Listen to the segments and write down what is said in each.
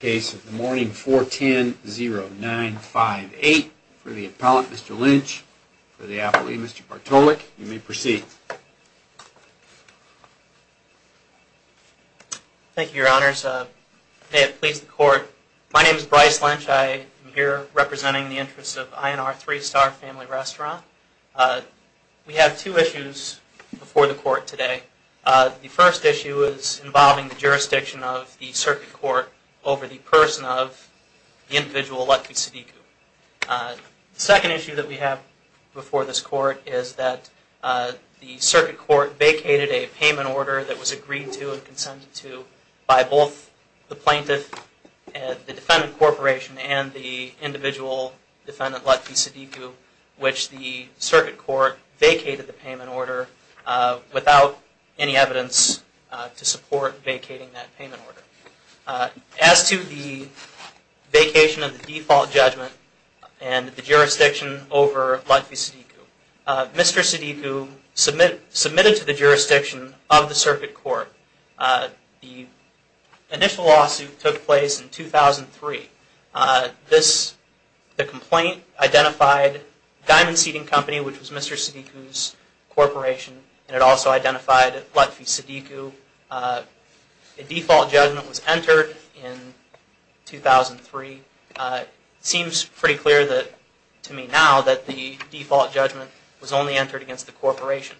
Case of the Morning 410-0958. For the appellant, Mr. Lynch. For the appellee, Mr. Bartolek. You may proceed. Thank you, your honors. May it please the court. My name is Bryce Lynch. I am here representing the interests of I & R Three Star Family Restaurant. We have two issues before the court today. The first issue is involving the jurisdiction of the circuit court over the person of the individual Latfi Sadiku. The second issue that we have before this court is that the circuit court vacated a payment order that was agreed to and consented to by both the plaintiff, the defendant corporation, and the individual defendant Latfi Sadiku, which the circuit court vacated the payment order without any evidence to support vacating that payment order. As to the vacation of the default judgment and the jurisdiction over Latfi Sadiku, Mr. Sadiku submitted to the jurisdiction of the circuit court. The initial lawsuit took place in 2003. The complaint identified Diamond Seating Company, which was Mr. Sadiku's corporation, and it also identified Latfi Sadiku. The default judgment was entered in 2003. It seems pretty clear to me now that the default judgment was only entered against the corporation.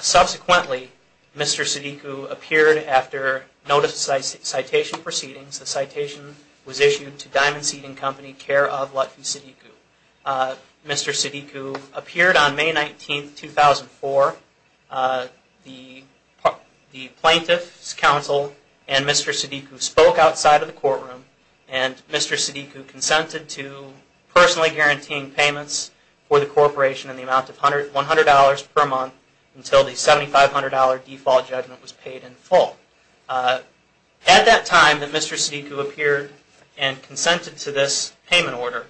Subsequently, Mr. Sadiku appeared after notice of citation proceedings. The citation was issued to Diamond Seating Company, care of Latfi Sadiku. Mr. Sadiku appeared on May 19, 2004. The plaintiff's counsel and Mr. Sadiku spoke outside of the courtroom and Mr. Sadiku consented to personally guaranteeing payments for the corporation in the amount of $100 per month until the $7,500 default judgment was paid in full. At that time that Mr. Sadiku appeared and consented to this payment order,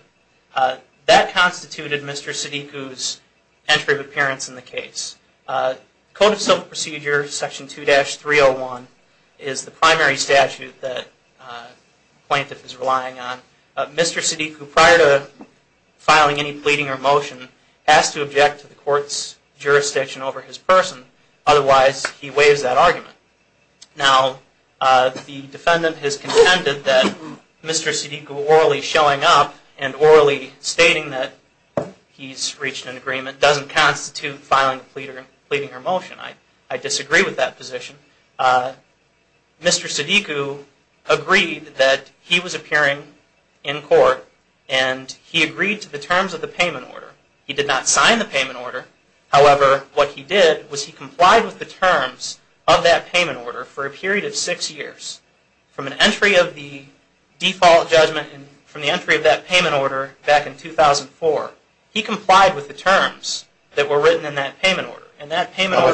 that constituted Mr. Sadiku's entry of appearance in the case. Code of Civil Procedure Section 2-301 is the primary statute that the plaintiff is relying on. Mr. Sadiku, prior to filing any pleading or motion, has to object to the court's jurisdiction over his person. Otherwise, he waives that argument. Now, the defendant has contended that Mr. Sadiku orally showing up and orally stating that he's reached an agreement doesn't constitute filing a pleading or motion. I disagree with that position. Mr. Sadiku agreed that he was appearing in court and he agreed to the terms of the payment order. He did not sign the payment order. However, what he did was he complied with the terms of that payment order for a period of six years. From an entry of the default judgment and from the entry of that payment order back in 2004, he complied with the terms that were written in that payment order. How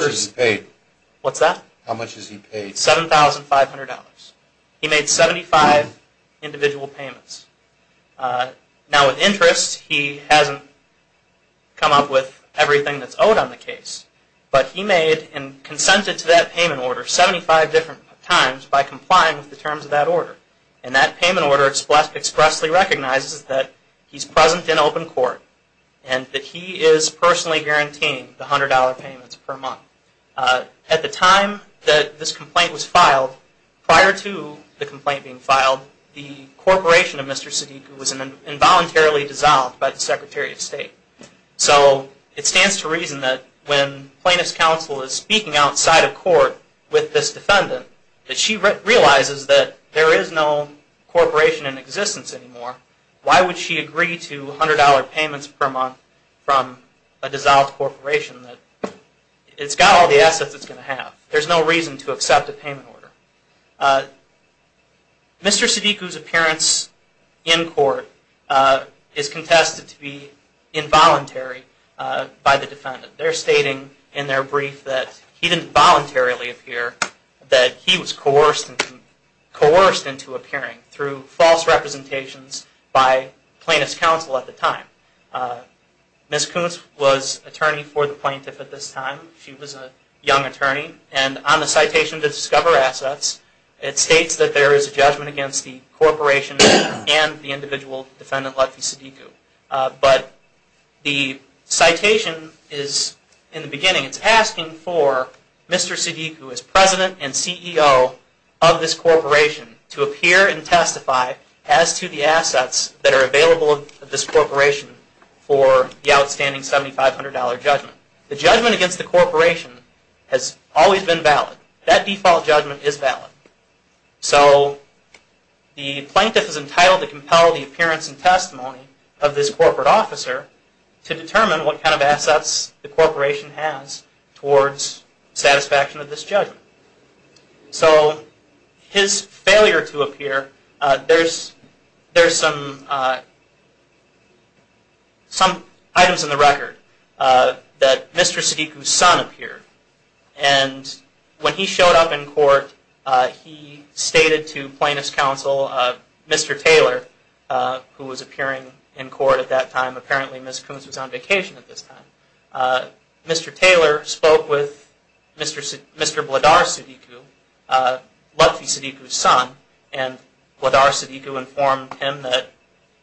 much has he paid? $7,500. He made 75 individual payments. Now, with interest, he hasn't come up with everything that's owed on the case, but he made and consented to that payment order 75 different times by complying with the terms of that order. And that payment order expressly recognizes that he's present in open court and that he is personally guaranteeing the $100 payments per month. At the time that this complaint was filed, prior to the complaint being filed, the corporation of Mr. Sadiku was involuntarily dissolved by the Secretary of State. So, it stands to reason that when plaintiff's counsel is speaking outside of court with this defendant, that she realizes that there is no corporation in existence anymore. Why would she agree to $100 payments per month from a dissolved corporation? It's got all the assets it's going to have. There's no reason to accept a payment order. Mr. Sadiku's appearance in court is contested to be involuntary by the defendant. They're stating in their brief that he didn't voluntarily appear, that he was coerced into appearing through false representations by plaintiff's counsel at the time. Ms. Koontz was attorney for the plaintiff at this time. She was a young attorney, and on the citation to discover assets, it states that there is a judgment against the corporation and the individual defendant, Latfi Sadiku. But the citation is, in the beginning, it's asking for Mr. Sadiku, as President and CEO of this corporation, to appear and testify as to the assets that are available to this corporation for the outstanding $7,500 judgment. The judgment against the corporation has always been valid. That default judgment is valid. So, the plaintiff is entitled to compel the appearance and testimony of this corporate officer to determine what kind of assets the corporation has towards satisfaction of this judgment. So, his failure to appear, there's some items in the record that Mr. Sadiku's son appeared. And when he showed up in court, he stated to plaintiff's counsel, Mr. Taylor, who was appearing in court at that time. Apparently, Ms. Koontz was on vacation at this time. Mr. Taylor spoke with Mr. Bladar Sadiku, Latfi Sadiku's son, and Bladar Sadiku informed him that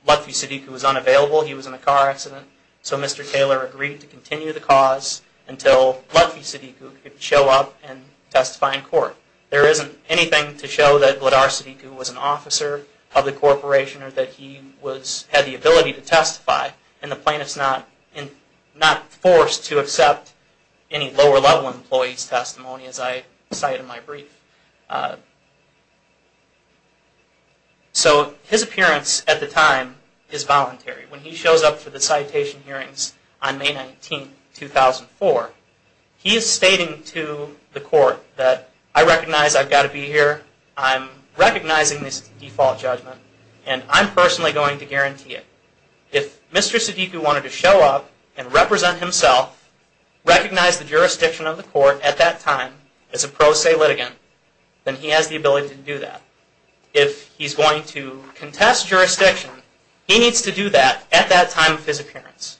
Latfi Sadiku was unavailable. He was in a car accident. So, Mr. Taylor agreed to continue the cause until Latfi Sadiku could show up and testify in court. There isn't anything to show that Bladar Sadiku was an officer of the corporation or that he had the ability to testify, and the plaintiff's not forced to accept any lower-level employee's testimony, as I cite in my brief. So, his appearance at the time is voluntary. When he shows up for the citation hearings on May 19, 2004, he is stating to the court that, I recognize I've got to be here, I'm recognizing this default judgment, and I'm personally going to guarantee it. If Mr. Sadiku wanted to show up and represent himself, recognize the jurisdiction of the court at that time as a pro se litigant, then he has the ability to do that. If he's going to contest jurisdiction, he needs to do that at that time of his appearance.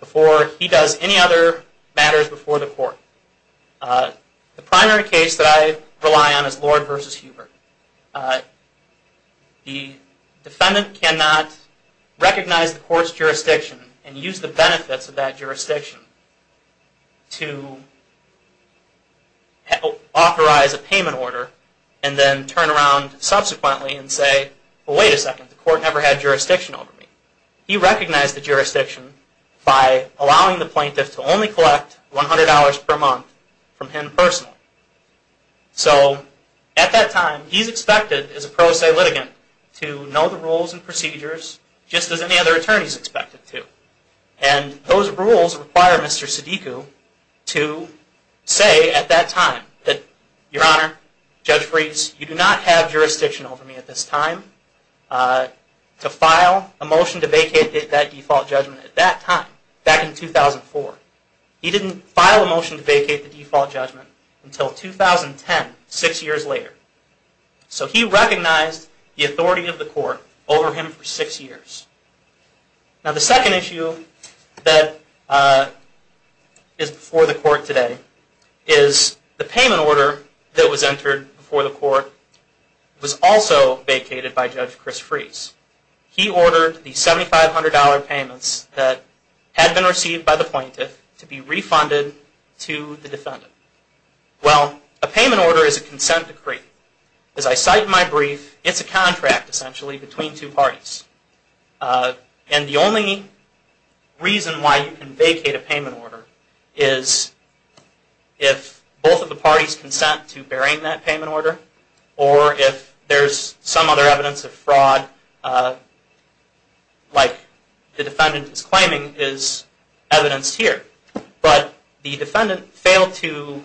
before he does any other matters before the court. The primary case that I rely on is Lord v. Hubert. The defendant cannot recognize the court's jurisdiction and use the benefits of that jurisdiction to authorize a payment order and then turn around subsequently and say, well, wait a second, the court never had jurisdiction over me. He recognized the jurisdiction by allowing the plaintiff to only collect $100 per month from him personally. So, at that time, he's expected as a pro se litigant to know the rules and procedures just as any other attorney is expected to. And those rules require Mr. Sadiku to say at that time that, Your Honor, Judge Fries, you do not have jurisdiction over me at this time. to file a motion to vacate that default judgment at that time, back in 2004. He didn't file a motion to vacate the default judgment until 2010, six years later. So he recognized the authority of the court over him for six years. Now, the second issue that is before the court today is the payment order that was entered before the court was also vacated by Judge Chris Fries. He ordered the $7,500 payments that had been received by the plaintiff to be refunded to the defendant. Well, a payment order is a consent decree. As I cite in my brief, it's a contract, essentially, between two parties. And the only reason why you can vacate a payment order is if both of the parties consent to bearing that payment order, or if there's some other evidence of fraud, like the defendant is claiming is evidenced here. But the defendant failed to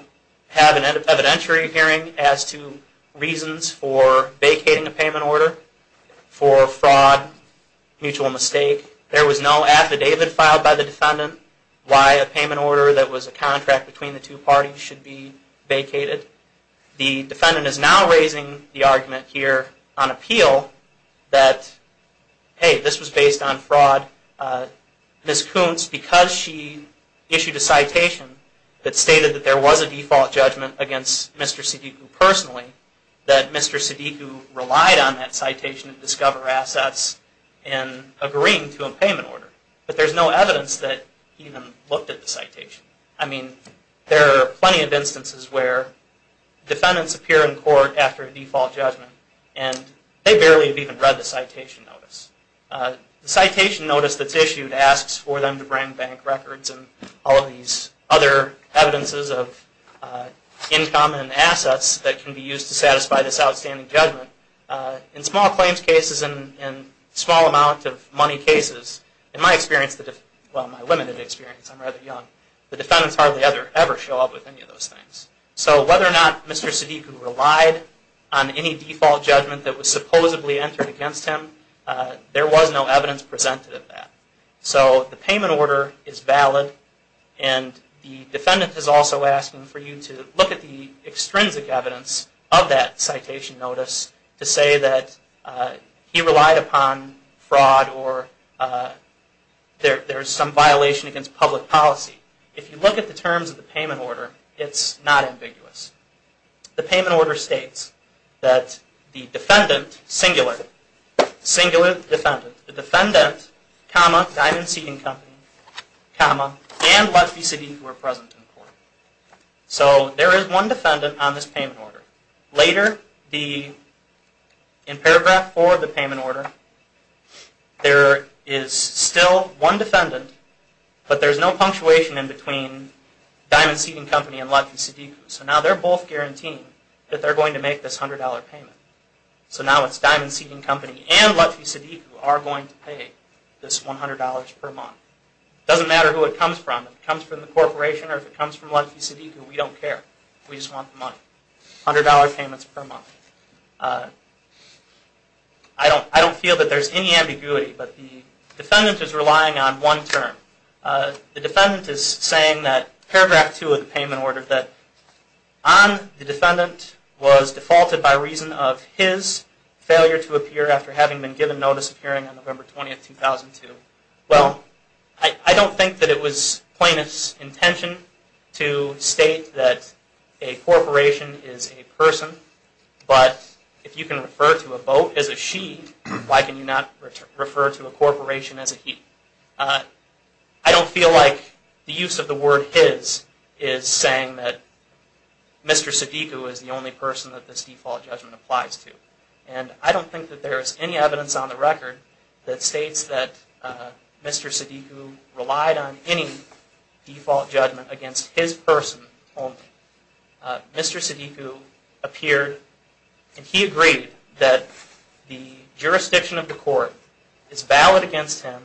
have an evidentiary hearing as to reasons for vacating a payment order for fraud, mutual mistake. There was no affidavit filed by the defendant why a payment order that was a contract between the two parties should be vacated. The defendant is now raising the argument here on appeal that, hey, this was based on fraud. Ms. Kuntz, because she issued a citation that stated that there was a default judgment against Mr. Siddiqu personally, that Mr. Siddiqu relied on that citation to discover assets in agreeing to a payment order. But there's no evidence that he even looked at the citation. I mean, there are plenty of instances where defendants appear in court after a default judgment, and they barely have even read the citation notice. The citation notice that's issued asks for them to bring bank records and all of these other evidences of income and assets that can be used to satisfy this outstanding judgment. In small claims cases and small amount of money cases, in my limited experience, I'm rather young, the defendants hardly ever show up with any of those things. So whether or not Mr. Siddiqu relied on any default judgment that was supposedly entered against him, there was no evidence presented of that. So the payment order is valid, and the defendant is also asking for you to look at the extrinsic evidence of that citation notice to say that he relied upon fraud or there's some violation against public policy. If you look at the terms of the payment order, it's not ambiguous. The payment order states that the defendant, singular defendant, comma, Diamond Seating Company, comma, and Lethby Siddiqu are present in court. So there is one defendant on this payment order. Later, in paragraph 4 of the payment order, there is still one defendant, but there's no punctuation in between Diamond Seating Company and Lethby Siddiqu. So now they're both guaranteeing that they're going to make this $100 payment. So now it's Diamond Seating Company and Lethby Siddiqu who are going to pay this $100 per month. It doesn't matter who it comes from. If it comes from the corporation or if it comes from Lethby Siddiqu, we don't care. We just want the money. $100 payments per month. I don't feel that there's any ambiguity, but the defendant is relying on one term. The defendant is saying that, paragraph 2 of the payment order, that on the defendant was defaulted by reason of his failure to appear after having been given notice of appearing on November 20, 2002. Well, I don't think that it was plaintiff's intention to state that a corporation is a person, but if you can refer to a boat as a she, why can you not refer to a corporation as a he? I don't feel like the use of the word his is saying that Mr. Siddiqu is the only person that this default judgment applies to. And I don't think that there is any evidence on the record that states that Mr. Siddiqu relied on any default judgment against his person only. Mr. Siddiqu appeared and he agreed that the jurisdiction of the court is valid against him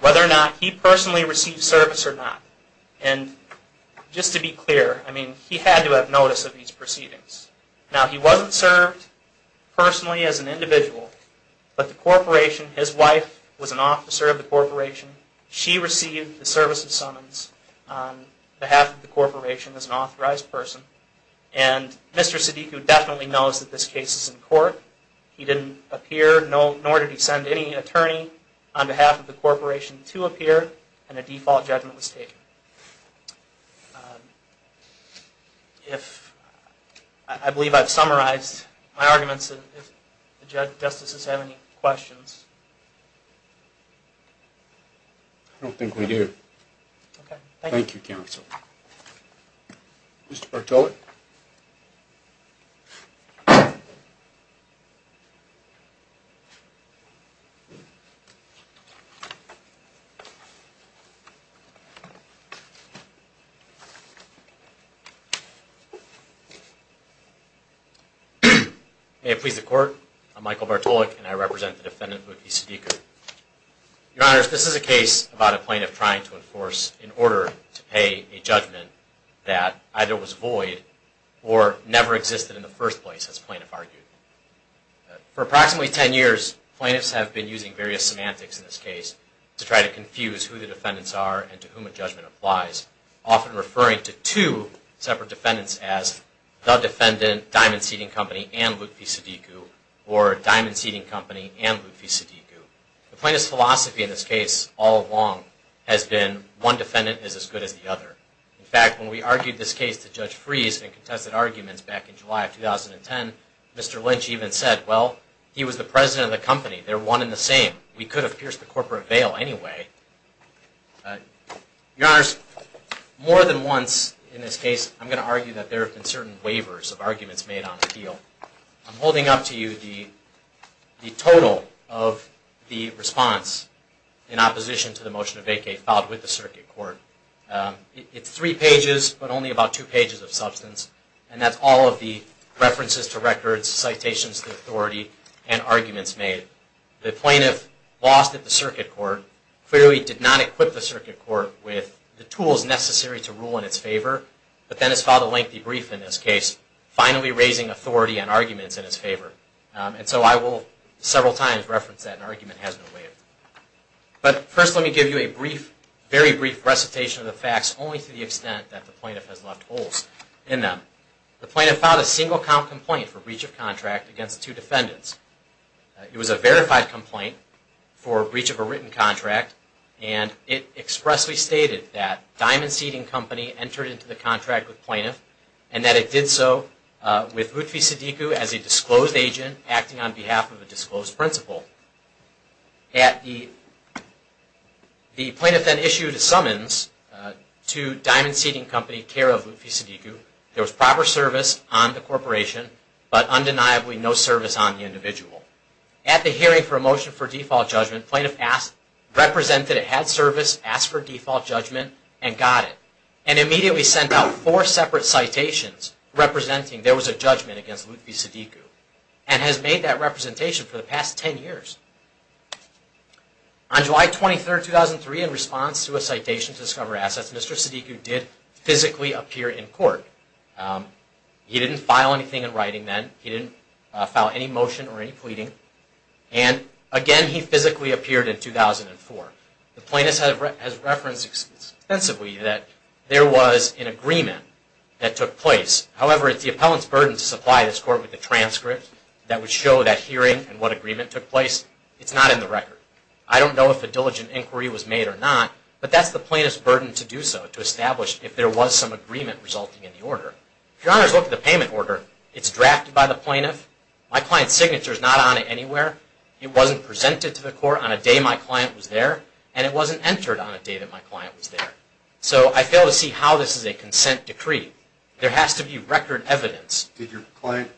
whether or not he personally received service or not. And just to be clear, I mean, he had to have notice of these proceedings. Now, he wasn't served personally as an individual, but the corporation, his wife was an officer of the corporation. She received the service of summons on behalf of the corporation as an authorized person. And Mr. Siddiqu definitely knows that this case is in court. He didn't appear, nor did he send any attorney on behalf of the corporation to appear, and a default judgment was taken. I believe I've summarized my arguments. If the justices have any questions. I don't think we do. Thank you, counsel. Mr. Bartoli? May it please the court. I'm Michael Bartoli, and I represent the defendant, Luthi Siddiqu. Your honors, this is a case about a plaintiff trying to enforce in order to pay a judgment that either was void or never existed in the first place, as plaintiff argued. For approximately 10 years, plaintiffs have been using various semantics in this case to try to confuse who the defendants are and to whom a judgment applies, often referring to two separate defendants as the defendant, Diamond Seating Company, and Luthi Siddiqu, or Diamond Seating Company and Luthi Siddiqu. The plaintiff's philosophy in this case all along has been one defendant is as good as the other. In fact, when we argued this case to Judge Freeze in contested arguments back in July of 2010, Mr. Lynch even said, well, he was the president of the company. They're one and the same. We could have pierced the corporate veil anyway. Your honors, more than once in this case, I'm going to argue that there have been certain waivers of arguments made on appeal. I'm holding up to you the total of the response in opposition to the motion of vacate filed with the circuit court. It's three pages, but only about two pages of substance, and that's all of the references to records, citations to authority, and arguments made. The plaintiff lost at the circuit court, clearly did not equip the circuit court with the tools necessary to rule in its favor, but then has filed a lengthy brief in this case, finally raising authority and arguments in its favor. And so I will several times reference that an argument has been waived. But first let me give you a brief, very brief recitation of the facts, only to the extent that the plaintiff has left holes in them. The plaintiff filed a single-count complaint for breach of contract against two defendants. It was a verified complaint for breach of a written contract, and it expressly stated that Diamond Seating Company entered into the contract with plaintiff, and that it did so with Rutfi Siddiqui as a disclosed agent acting on behalf of a disclosed principal. At the, the plaintiff then issued a summons to Diamond Seating Company, care of Rutfi Siddiqui. There was proper service on the corporation, but undeniably no service on the individual. At the hearing for a motion for default judgment, plaintiff asked, represented it had service, asked for default judgment, and got it, and immediately sent out four separate citations representing there was a judgment against Rutfi Siddiqui, and has made that representation for the past ten years. On July 23, 2003, in response to a citation to discover assets, Mr. Siddiqui did physically appear in court. He didn't file anything in writing then, he didn't file any motion or any pleading, and again he physically appeared in 2004. The plaintiff has referenced extensively that there was an agreement that took place. However, it's the appellant's burden to supply this court with a transcript that would show that hearing and what agreement took place. It's not in the record. I don't know if a diligent inquiry was made or not, but that's the plaintiff's burden to do so, to establish if there was some agreement resulting in the order. If your honors look at the payment order, it's drafted by the plaintiff. My client's signature is not on it anywhere. It wasn't presented to the court on a day my client was there, and it wasn't entered on a day that my client was there. So, I fail to see how this is a consent decree. There has to be record evidence. Did your client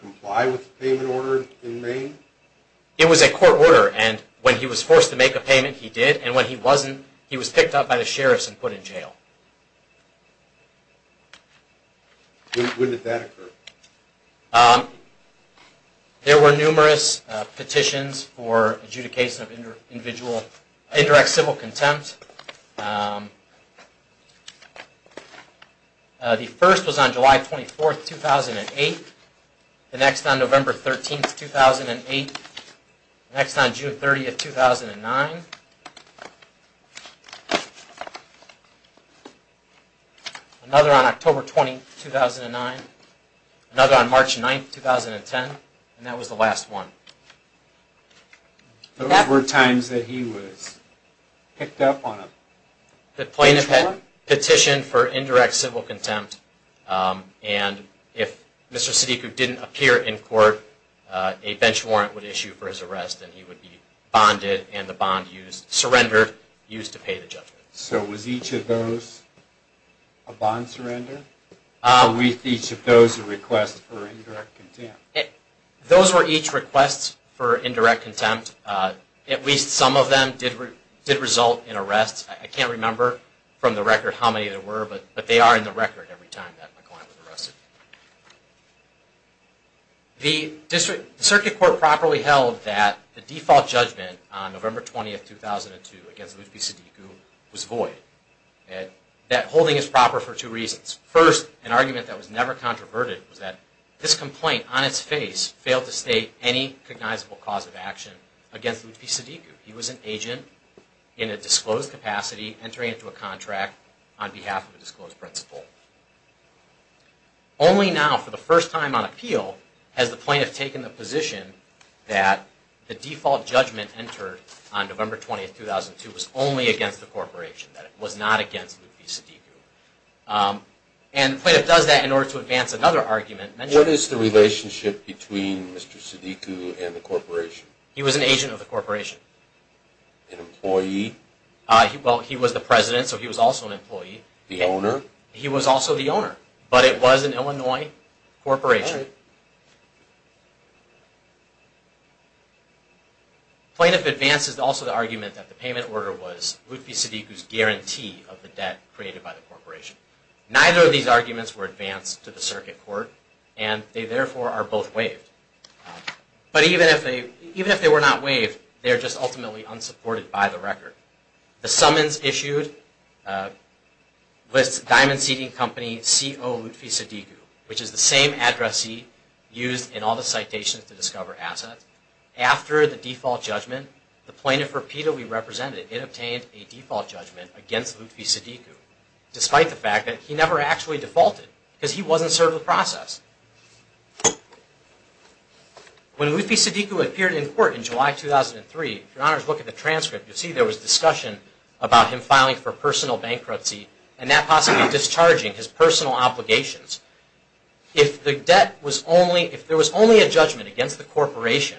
comply with the payment order in Maine? It was a court order, and when he was forced to make a payment, he did, and when he wasn't, he was picked up by the sheriffs and put in jail. When did that occur? There were numerous petitions for adjudication of indirect civil contempt. The first was on July 24, 2008, the next on November 13, 2008, the next on June 30, 2009, another on October 20, 2009, another on March 9, 2010, and that was the last one. Those were times that he was picked up on a bench warrant? The plaintiff had petitioned for indirect civil contempt, and if Mr. Siddiqui didn't appear in court, a bench warrant would issue for his arrest, and he would be bonded, and the bond used, surrendered, used to pay the judgment. So, was each of those a bond surrender? Were each of those a request for indirect contempt? Those were each requests for indirect contempt. At least some of them did result in arrest. I can't remember from the record how many there were, but they are in the record every time that my client was arrested. The circuit court properly held that the default judgment on November 20, 2002, against Lutfi Siddiqui was void. That holding is proper for two reasons. First, an argument that was never controverted was that this complaint, on its face, failed to state any recognizable cause of action against Lutfi Siddiqui. He was an agent in a disclosed capacity entering into a contract on behalf of a disclosed principal. Only now, for the first time on appeal, has the plaintiff taken the position that the default judgment entered on November 20, 2002 was only against the corporation, that it was not against Lutfi Siddiqui. And the plaintiff does that in order to advance another argument. What is the relationship between Mr. Siddiqui and the corporation? He was an agent of the corporation. An employee? Well, he was the president, so he was also an employee. The owner? He was also the owner, but it was an Illinois corporation. All right. The plaintiff advances also the argument that the payment order was Lutfi Siddiqui's guarantee of the debt created by the corporation. Neither of these arguments were advanced to the circuit court, and they therefore are both waived. But even if they were not waived, they are just ultimately unsupported by the record. The summons issued lists Diamond Seating Company C.O. Lutfi Siddiqui, which is the same addressee used in all the citations to discover assets. After the default judgment, the plaintiff repeatedly represented it. It obtained a default judgment against Lutfi Siddiqui, despite the fact that he never actually defaulted because he wasn't served the process. When Lutfi Siddiqui appeared in court in July 2003, if your honors look at the transcript, you'll see there was discussion about him filing for personal bankruptcy and that possibly discharging his personal obligations. If there was only a judgment against the corporation,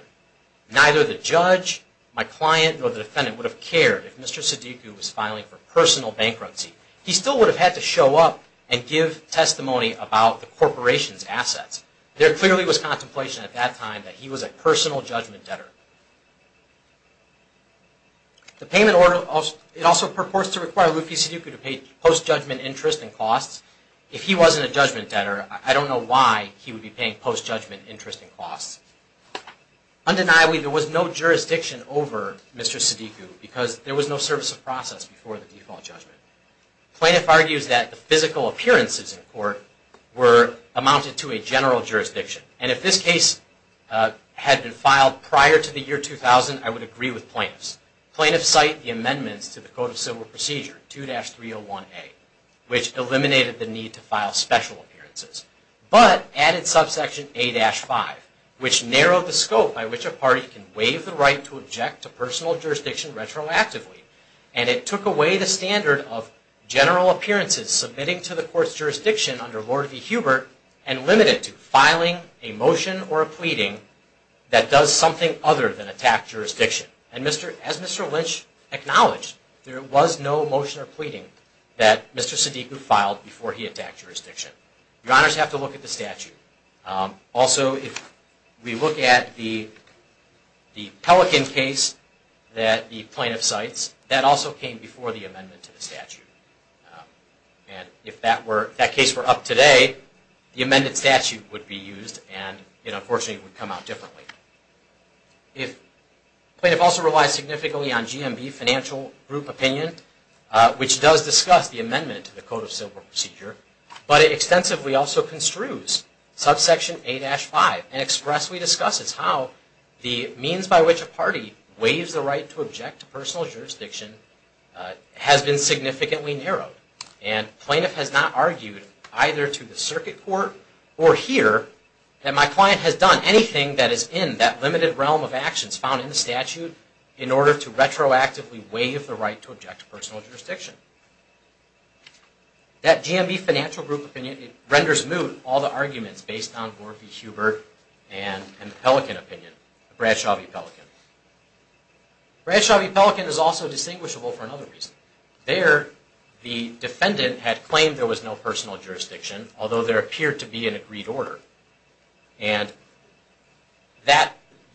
neither the judge, my client, nor the defendant would have cared if Mr. Siddiqui was filing for personal bankruptcy. He still would have had to show up and give testimony about the corporation's assets. There clearly was contemplation at that time that he was a personal judgment debtor. The payment order also purports to require Lutfi Siddiqui to pay post-judgment interest and costs. If he wasn't a judgment debtor, I don't know why he would be paying post-judgment interest and costs. Undeniably, there was no jurisdiction over Mr. Siddiqui because there was no service of process before the default judgment. The plaintiff argues that the physical appearances in court amounted to a general jurisdiction. If this case had been filed prior to the year 2000, I would agree with plaintiffs. Plaintiffs cite the amendments to the Code of Civil Procedure, 2-301A, which eliminated the need to file special appearances, but added subsection A-5, which narrowed the scope by which a party can waive the right to object to personal jurisdiction retroactively. It took away the standard of general appearances submitting to the court's jurisdiction under Lord v. Hubert and limited it to filing a motion or a pleading that does something other than attack jurisdiction. As Mr. Lynch acknowledged, there was no motion or pleading that Mr. Siddiqui filed before he attacked jurisdiction. Your honors have to look at the statute. Also, if we look at the Pelican case that the plaintiff cites, that also came before the amendment to the statute. If that case were up today, the amended statute would be used and, unfortunately, it would come out differently. The plaintiff also relies significantly on GMB financial group opinion, which does discuss the amendment to the Code of Civil Procedure, but it extensively also construes subsection A-5 and expressly discusses how the means by which a party waives the right to object to personal jurisdiction has been significantly narrowed. Plaintiff has not argued, either to the circuit court or here, that my client has done anything that is in that limited realm of actions found in the statute in order to retroactively waive the right to object to personal jurisdiction. That GMB financial group opinion renders moot all the arguments based on Lord v. Hubert Bradshaw v. Pelican is also distinguishable for another reason. There, the defendant had claimed there was no personal jurisdiction, although there appeared to be an agreed order.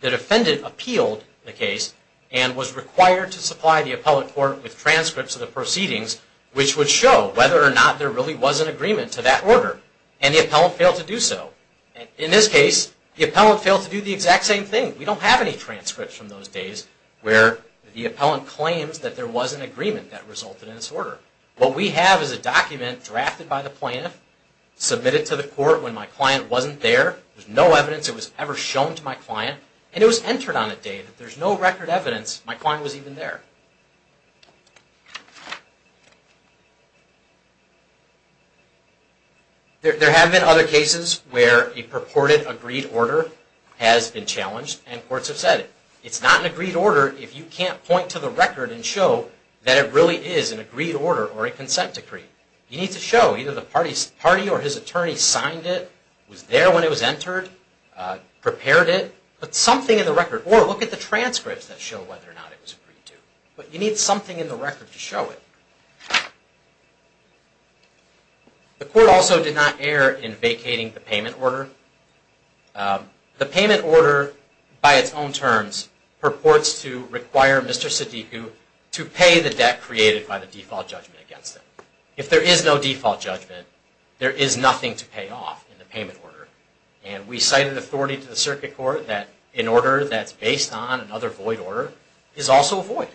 The defendant appealed the case and was required to supply the appellate court with transcripts of the proceedings, which would show whether or not there really was an agreement to that order, and the appellate failed to do so. In this case, the appellate failed to do the exact same thing. We don't have any transcripts from those days where the appellant claims that there was an agreement that resulted in this order. What we have is a document drafted by the plaintiff, submitted to the court when my client wasn't there. There's no evidence it was ever shown to my client, and it was entered on a date. There's no record evidence my client was even there. There have been other cases where a purported agreed order has been challenged, and courts have said it. It's not an agreed order if you can't point to the record and show that it really is an agreed order or a consent decree. You need to show either the party or his attorney signed it, was there when it was entered, prepared it, put something in the record, or look at the transcripts that show whether or not it was agreed to. But you need something in the record to show it. The court also did not err in vacating the payment order. The payment order, by its own terms, purports to require Mr. Sadiku to pay the debt created by the default judgment against him. If there is no default judgment, there is nothing to pay off in the payment order. And we cited authority to the circuit court that an order that's based on another void order is also a void.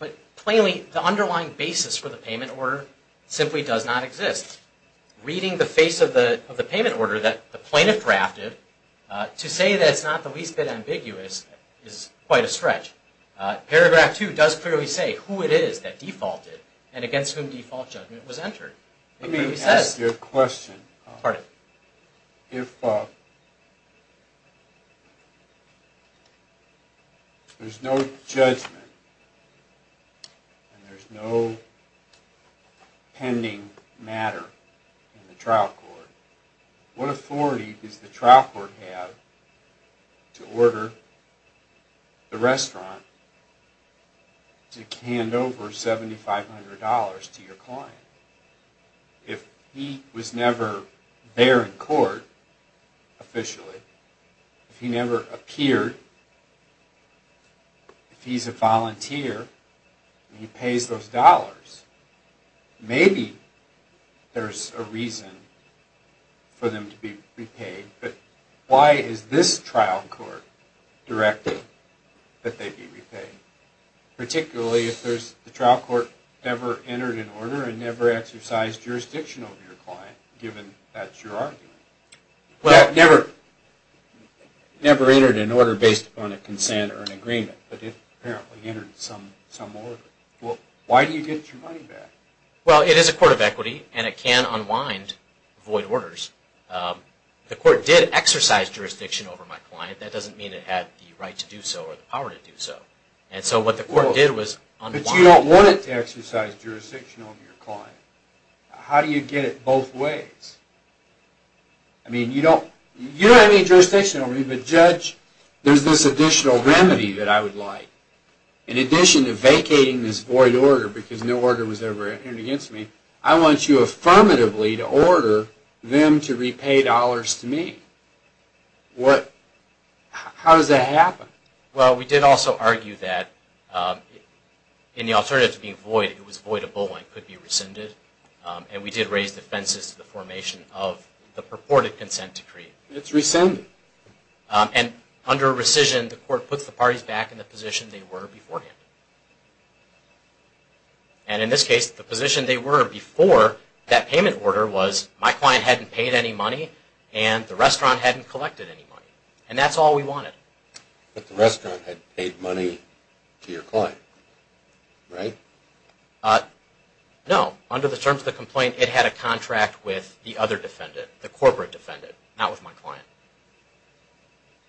But plainly, the underlying basis for the payment order simply does not exist. Reading the face of the payment order that the plaintiff drafted, to say that it's not the least bit ambiguous is quite a stretch. Paragraph 2 does clearly say who it is that defaulted and against whom default judgment was entered. Let me ask you a question. If there's no judgment and there's no pending matter in the trial court, what authority does the trial court have to order the restaurant to hand over $7,500 to your client? If he was never there in court officially, if he never appeared, if he's a volunteer and he pays those dollars, maybe there's a reason for them to be repaid. But why is this trial court directing that they be repaid, particularly if the trial court never entered an order and never exercised jurisdiction over your client, given that's your argument? It never entered an order based upon a consent or an agreement, but it apparently entered some order. Why do you get your money back? Well, it is a court of equity, and it can unwind void orders. The court did exercise jurisdiction over my client. That doesn't mean it had the right to do so or the power to do so. So what the court did was unwind it. But you don't want it to exercise jurisdiction over your client. How do you get it both ways? You don't have any jurisdiction over me, but Judge, there's this additional remedy that I would like. In addition to vacating this void order because no order was ever entered against me, I want you affirmatively to order them to repay dollars to me. How does that happen? Well, we did also argue that in the alternative to being void, it was void of bullying could be rescinded, and we did raise the fences to the formation of the purported consent decree. It's rescinded. And under rescission, the court puts the parties back in the position they were beforehand. And in this case, the position they were before that payment order was my client hadn't paid any money and the restaurant hadn't collected any money. And that's all we wanted. But the restaurant had paid money to your client, right? No. Under the terms of the complaint, it had a contract with the other defendant, the corporate defendant, not with my client.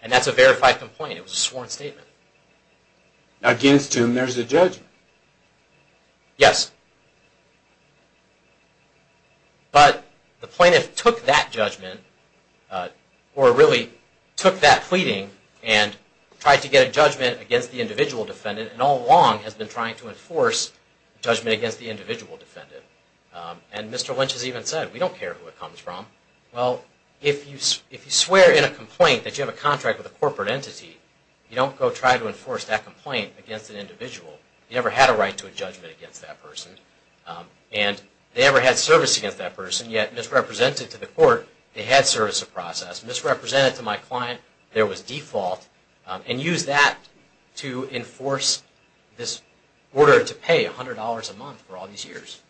And that's a verified complaint. It was a sworn statement. Against whom there's a judgment. Yes. But the plaintiff took that judgment or really took that pleading and tried to get a judgment against the individual defendant and all along has been trying to enforce judgment against the individual defendant. And Mr. Lynch has even said, we don't care who it comes from. Well, if you swear in a complaint that you have a contract with a corporate entity, you don't go try to enforce that complaint against an individual. You never had a right to a judgment against that person. And they never had service against that person. Yet misrepresented to the court, they had service of process. Misrepresented to my client, there was default. And used that to enforce this order to pay $100 a month for all these years.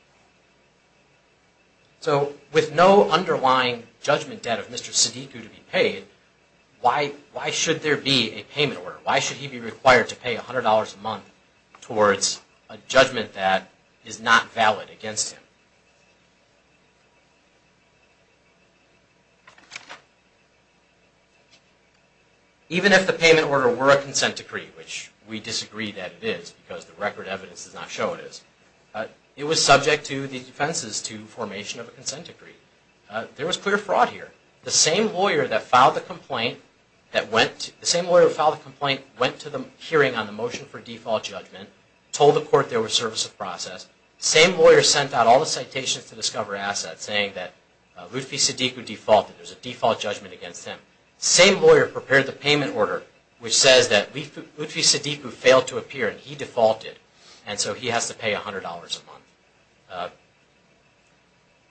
So with no underlying judgment debt of Mr. Siddiq to be paid, why should there be a payment order? Why should he be required to pay $100 a month towards a judgment that is not valid against him? Even if the payment order were a consent decree, which we disagree that it is because the record evidence does not show it is, it was subject to the defenses to formation of a consent decree. There was clear fraud here. The same lawyer that filed the complaint went to the hearing on the motion for default judgment, told the court there was service of process. The same lawyer sent out all the citations to Discover Assets saying that Luthfi Siddiq defaulted. There was a default judgment against him. The same lawyer prepared the payment order which says that Luthfi Siddiq failed to appear and he defaulted. And so he has to pay $100 a month.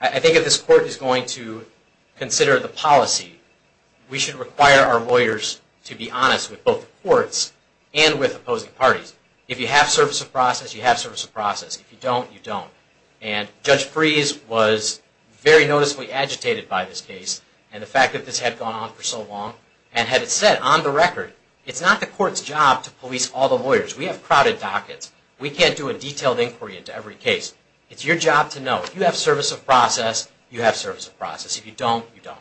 I think if this court is going to consider the policy, we should require our lawyers to be honest with both the courts and with opposing parties. If you have service of process, you have service of process. If you don't, you don't. And Judge Fries was very noticeably agitated by this case and the fact that this had gone on for so long. And had it said on the record, it's not the court's job to police all the lawyers. We have crowded dockets. We can't do a detailed inquiry into every case. It's your job to know. If you have service of process, you have service of process. If you don't, you don't.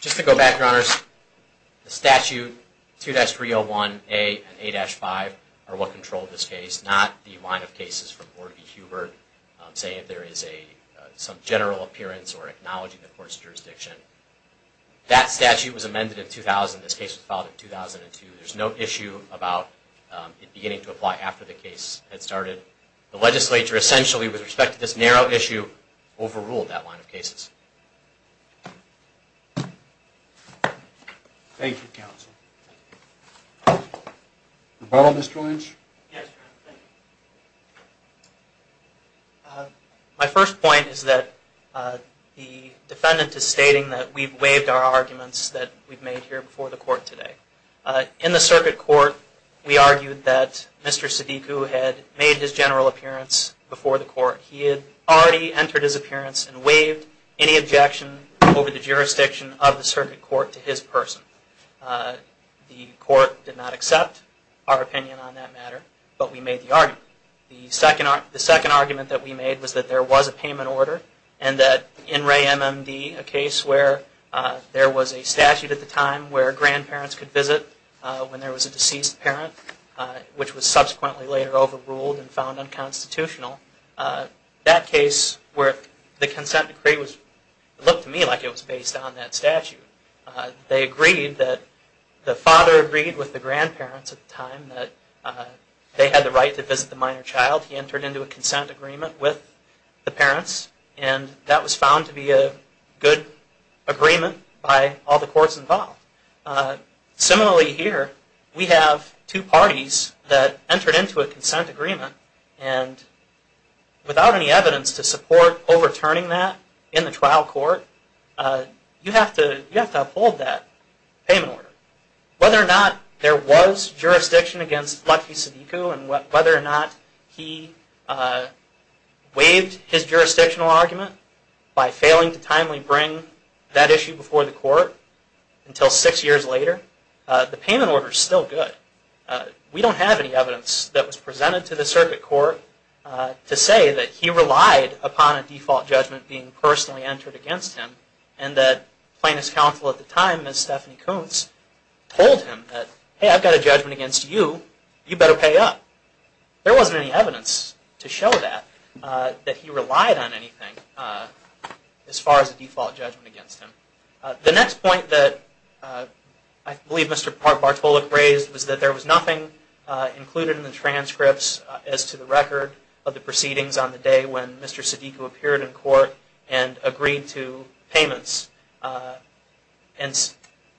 Just to go back, Your Honors, the statute 2-301A and 8-5 are what control this case, not the line of cases from Order v. Hubert. Say if there is some general appearance or acknowledging the court's jurisdiction. That statute was amended in 2000. This case was filed in 2002. There's no issue about it beginning to apply after the case had started. The legislature essentially, with respect to this narrow issue, overruled that line of cases. Thank you, counsel. Rebuttal, Mr. Lynch? Yes, Your Honor. My first point is that the defendant is stating that we've waived our arguments that we've made here before the court today. In the circuit court, we argued that Mr. Sadiku had made his general appearance before the court. He had already entered his appearance and waived any objection over the jurisdiction of the circuit court to his person. The court did not accept our opinion on that matter, but we made the argument. The second argument that we made was that there was a payment order and that in Ray MMD, a case where there was a statute at the time where grandparents could visit when there was a deceased parent, which was subsequently later overruled and found unconstitutional, that case where the consent decree looked to me like it was based on that statute. They agreed that the father agreed with the grandparents at the time that they had the right to visit the minor child. He entered into a consent agreement with the parents and that was found to be a good agreement by all the courts involved. Similarly here, we have two parties that entered into a consent agreement and without any evidence to support overturning that in the trial court, you have to uphold that payment order. Whether or not there was jurisdiction against Lucky Sadiku and whether or not he waived his jurisdictional argument by failing to timely bring that issue before the court until six years later, the payment order is still good. We don't have any evidence that was presented to the circuit court to say that he relied upon a default judgment being personally entered against him and that plaintiff's counsel at the time, Ms. Stephanie Koontz, told him that, hey, I've got a judgment against you, you better pay up. There wasn't any evidence to show that, that he relied on anything as far as a default judgment against him. The next point that I believe Mr. Bartolak raised was that there was nothing included in the transcripts as to the record of the proceedings on the day when Mr. Sadiku appeared in court and agreed to payments.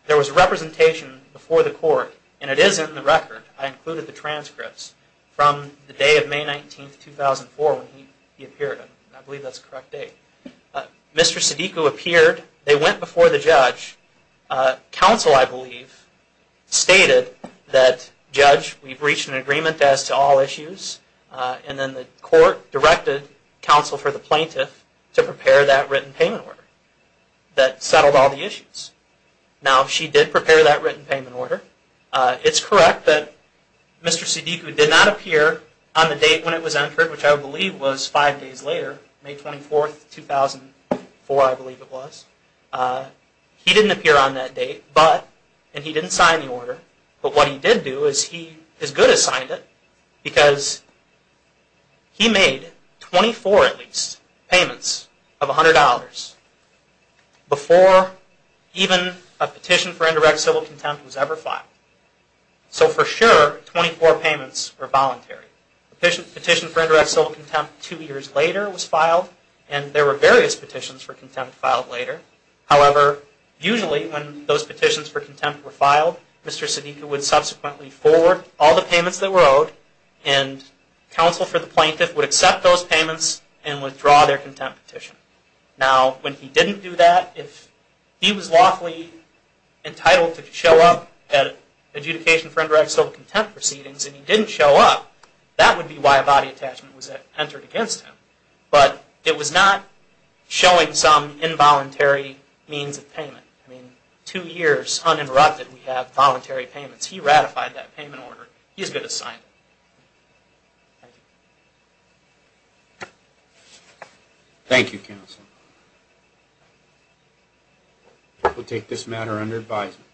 There was representation before the court and it is in the record. I included the transcripts from the day of May 19, 2004 when he appeared. I believe that's the correct date. Mr. Sadiku appeared, they went before the judge. Counsel, I believe, stated that, Judge, we've reached an agreement as to all issues, and then the court directed counsel for the plaintiff to prepare that written payment order that settled all the issues. Now, she did prepare that written payment order. It's correct that Mr. Sadiku did not appear on the date when it was entered, which I believe was five days later, May 24, 2004, I believe it was. He didn't appear on that date, but, and he didn't sign the order, but what he did do is he, as good as signed it, because he made 24 at least payments of $100 before even a petition for indirect civil contempt was ever filed. So for sure, 24 payments were voluntary. A petition for indirect civil contempt two years later was filed, and there were various petitions for contempt filed later. However, usually when those petitions for contempt were filed, Mr. Sadiku would subsequently forward all the payments that were owed, and counsel for the plaintiff would accept those payments and withdraw their contempt petition. Now, when he didn't do that, if he was lawfully entitled to show up at adjudication for indirect civil contempt proceedings and he didn't show up, that would be why a body attachment was entered against him. But it was not showing some involuntary means of payment. I mean, two years uninterrupted we have voluntary payments. He ratified that payment order. He as good as signed it. Thank you, counsel. We'll take this matter under advisement.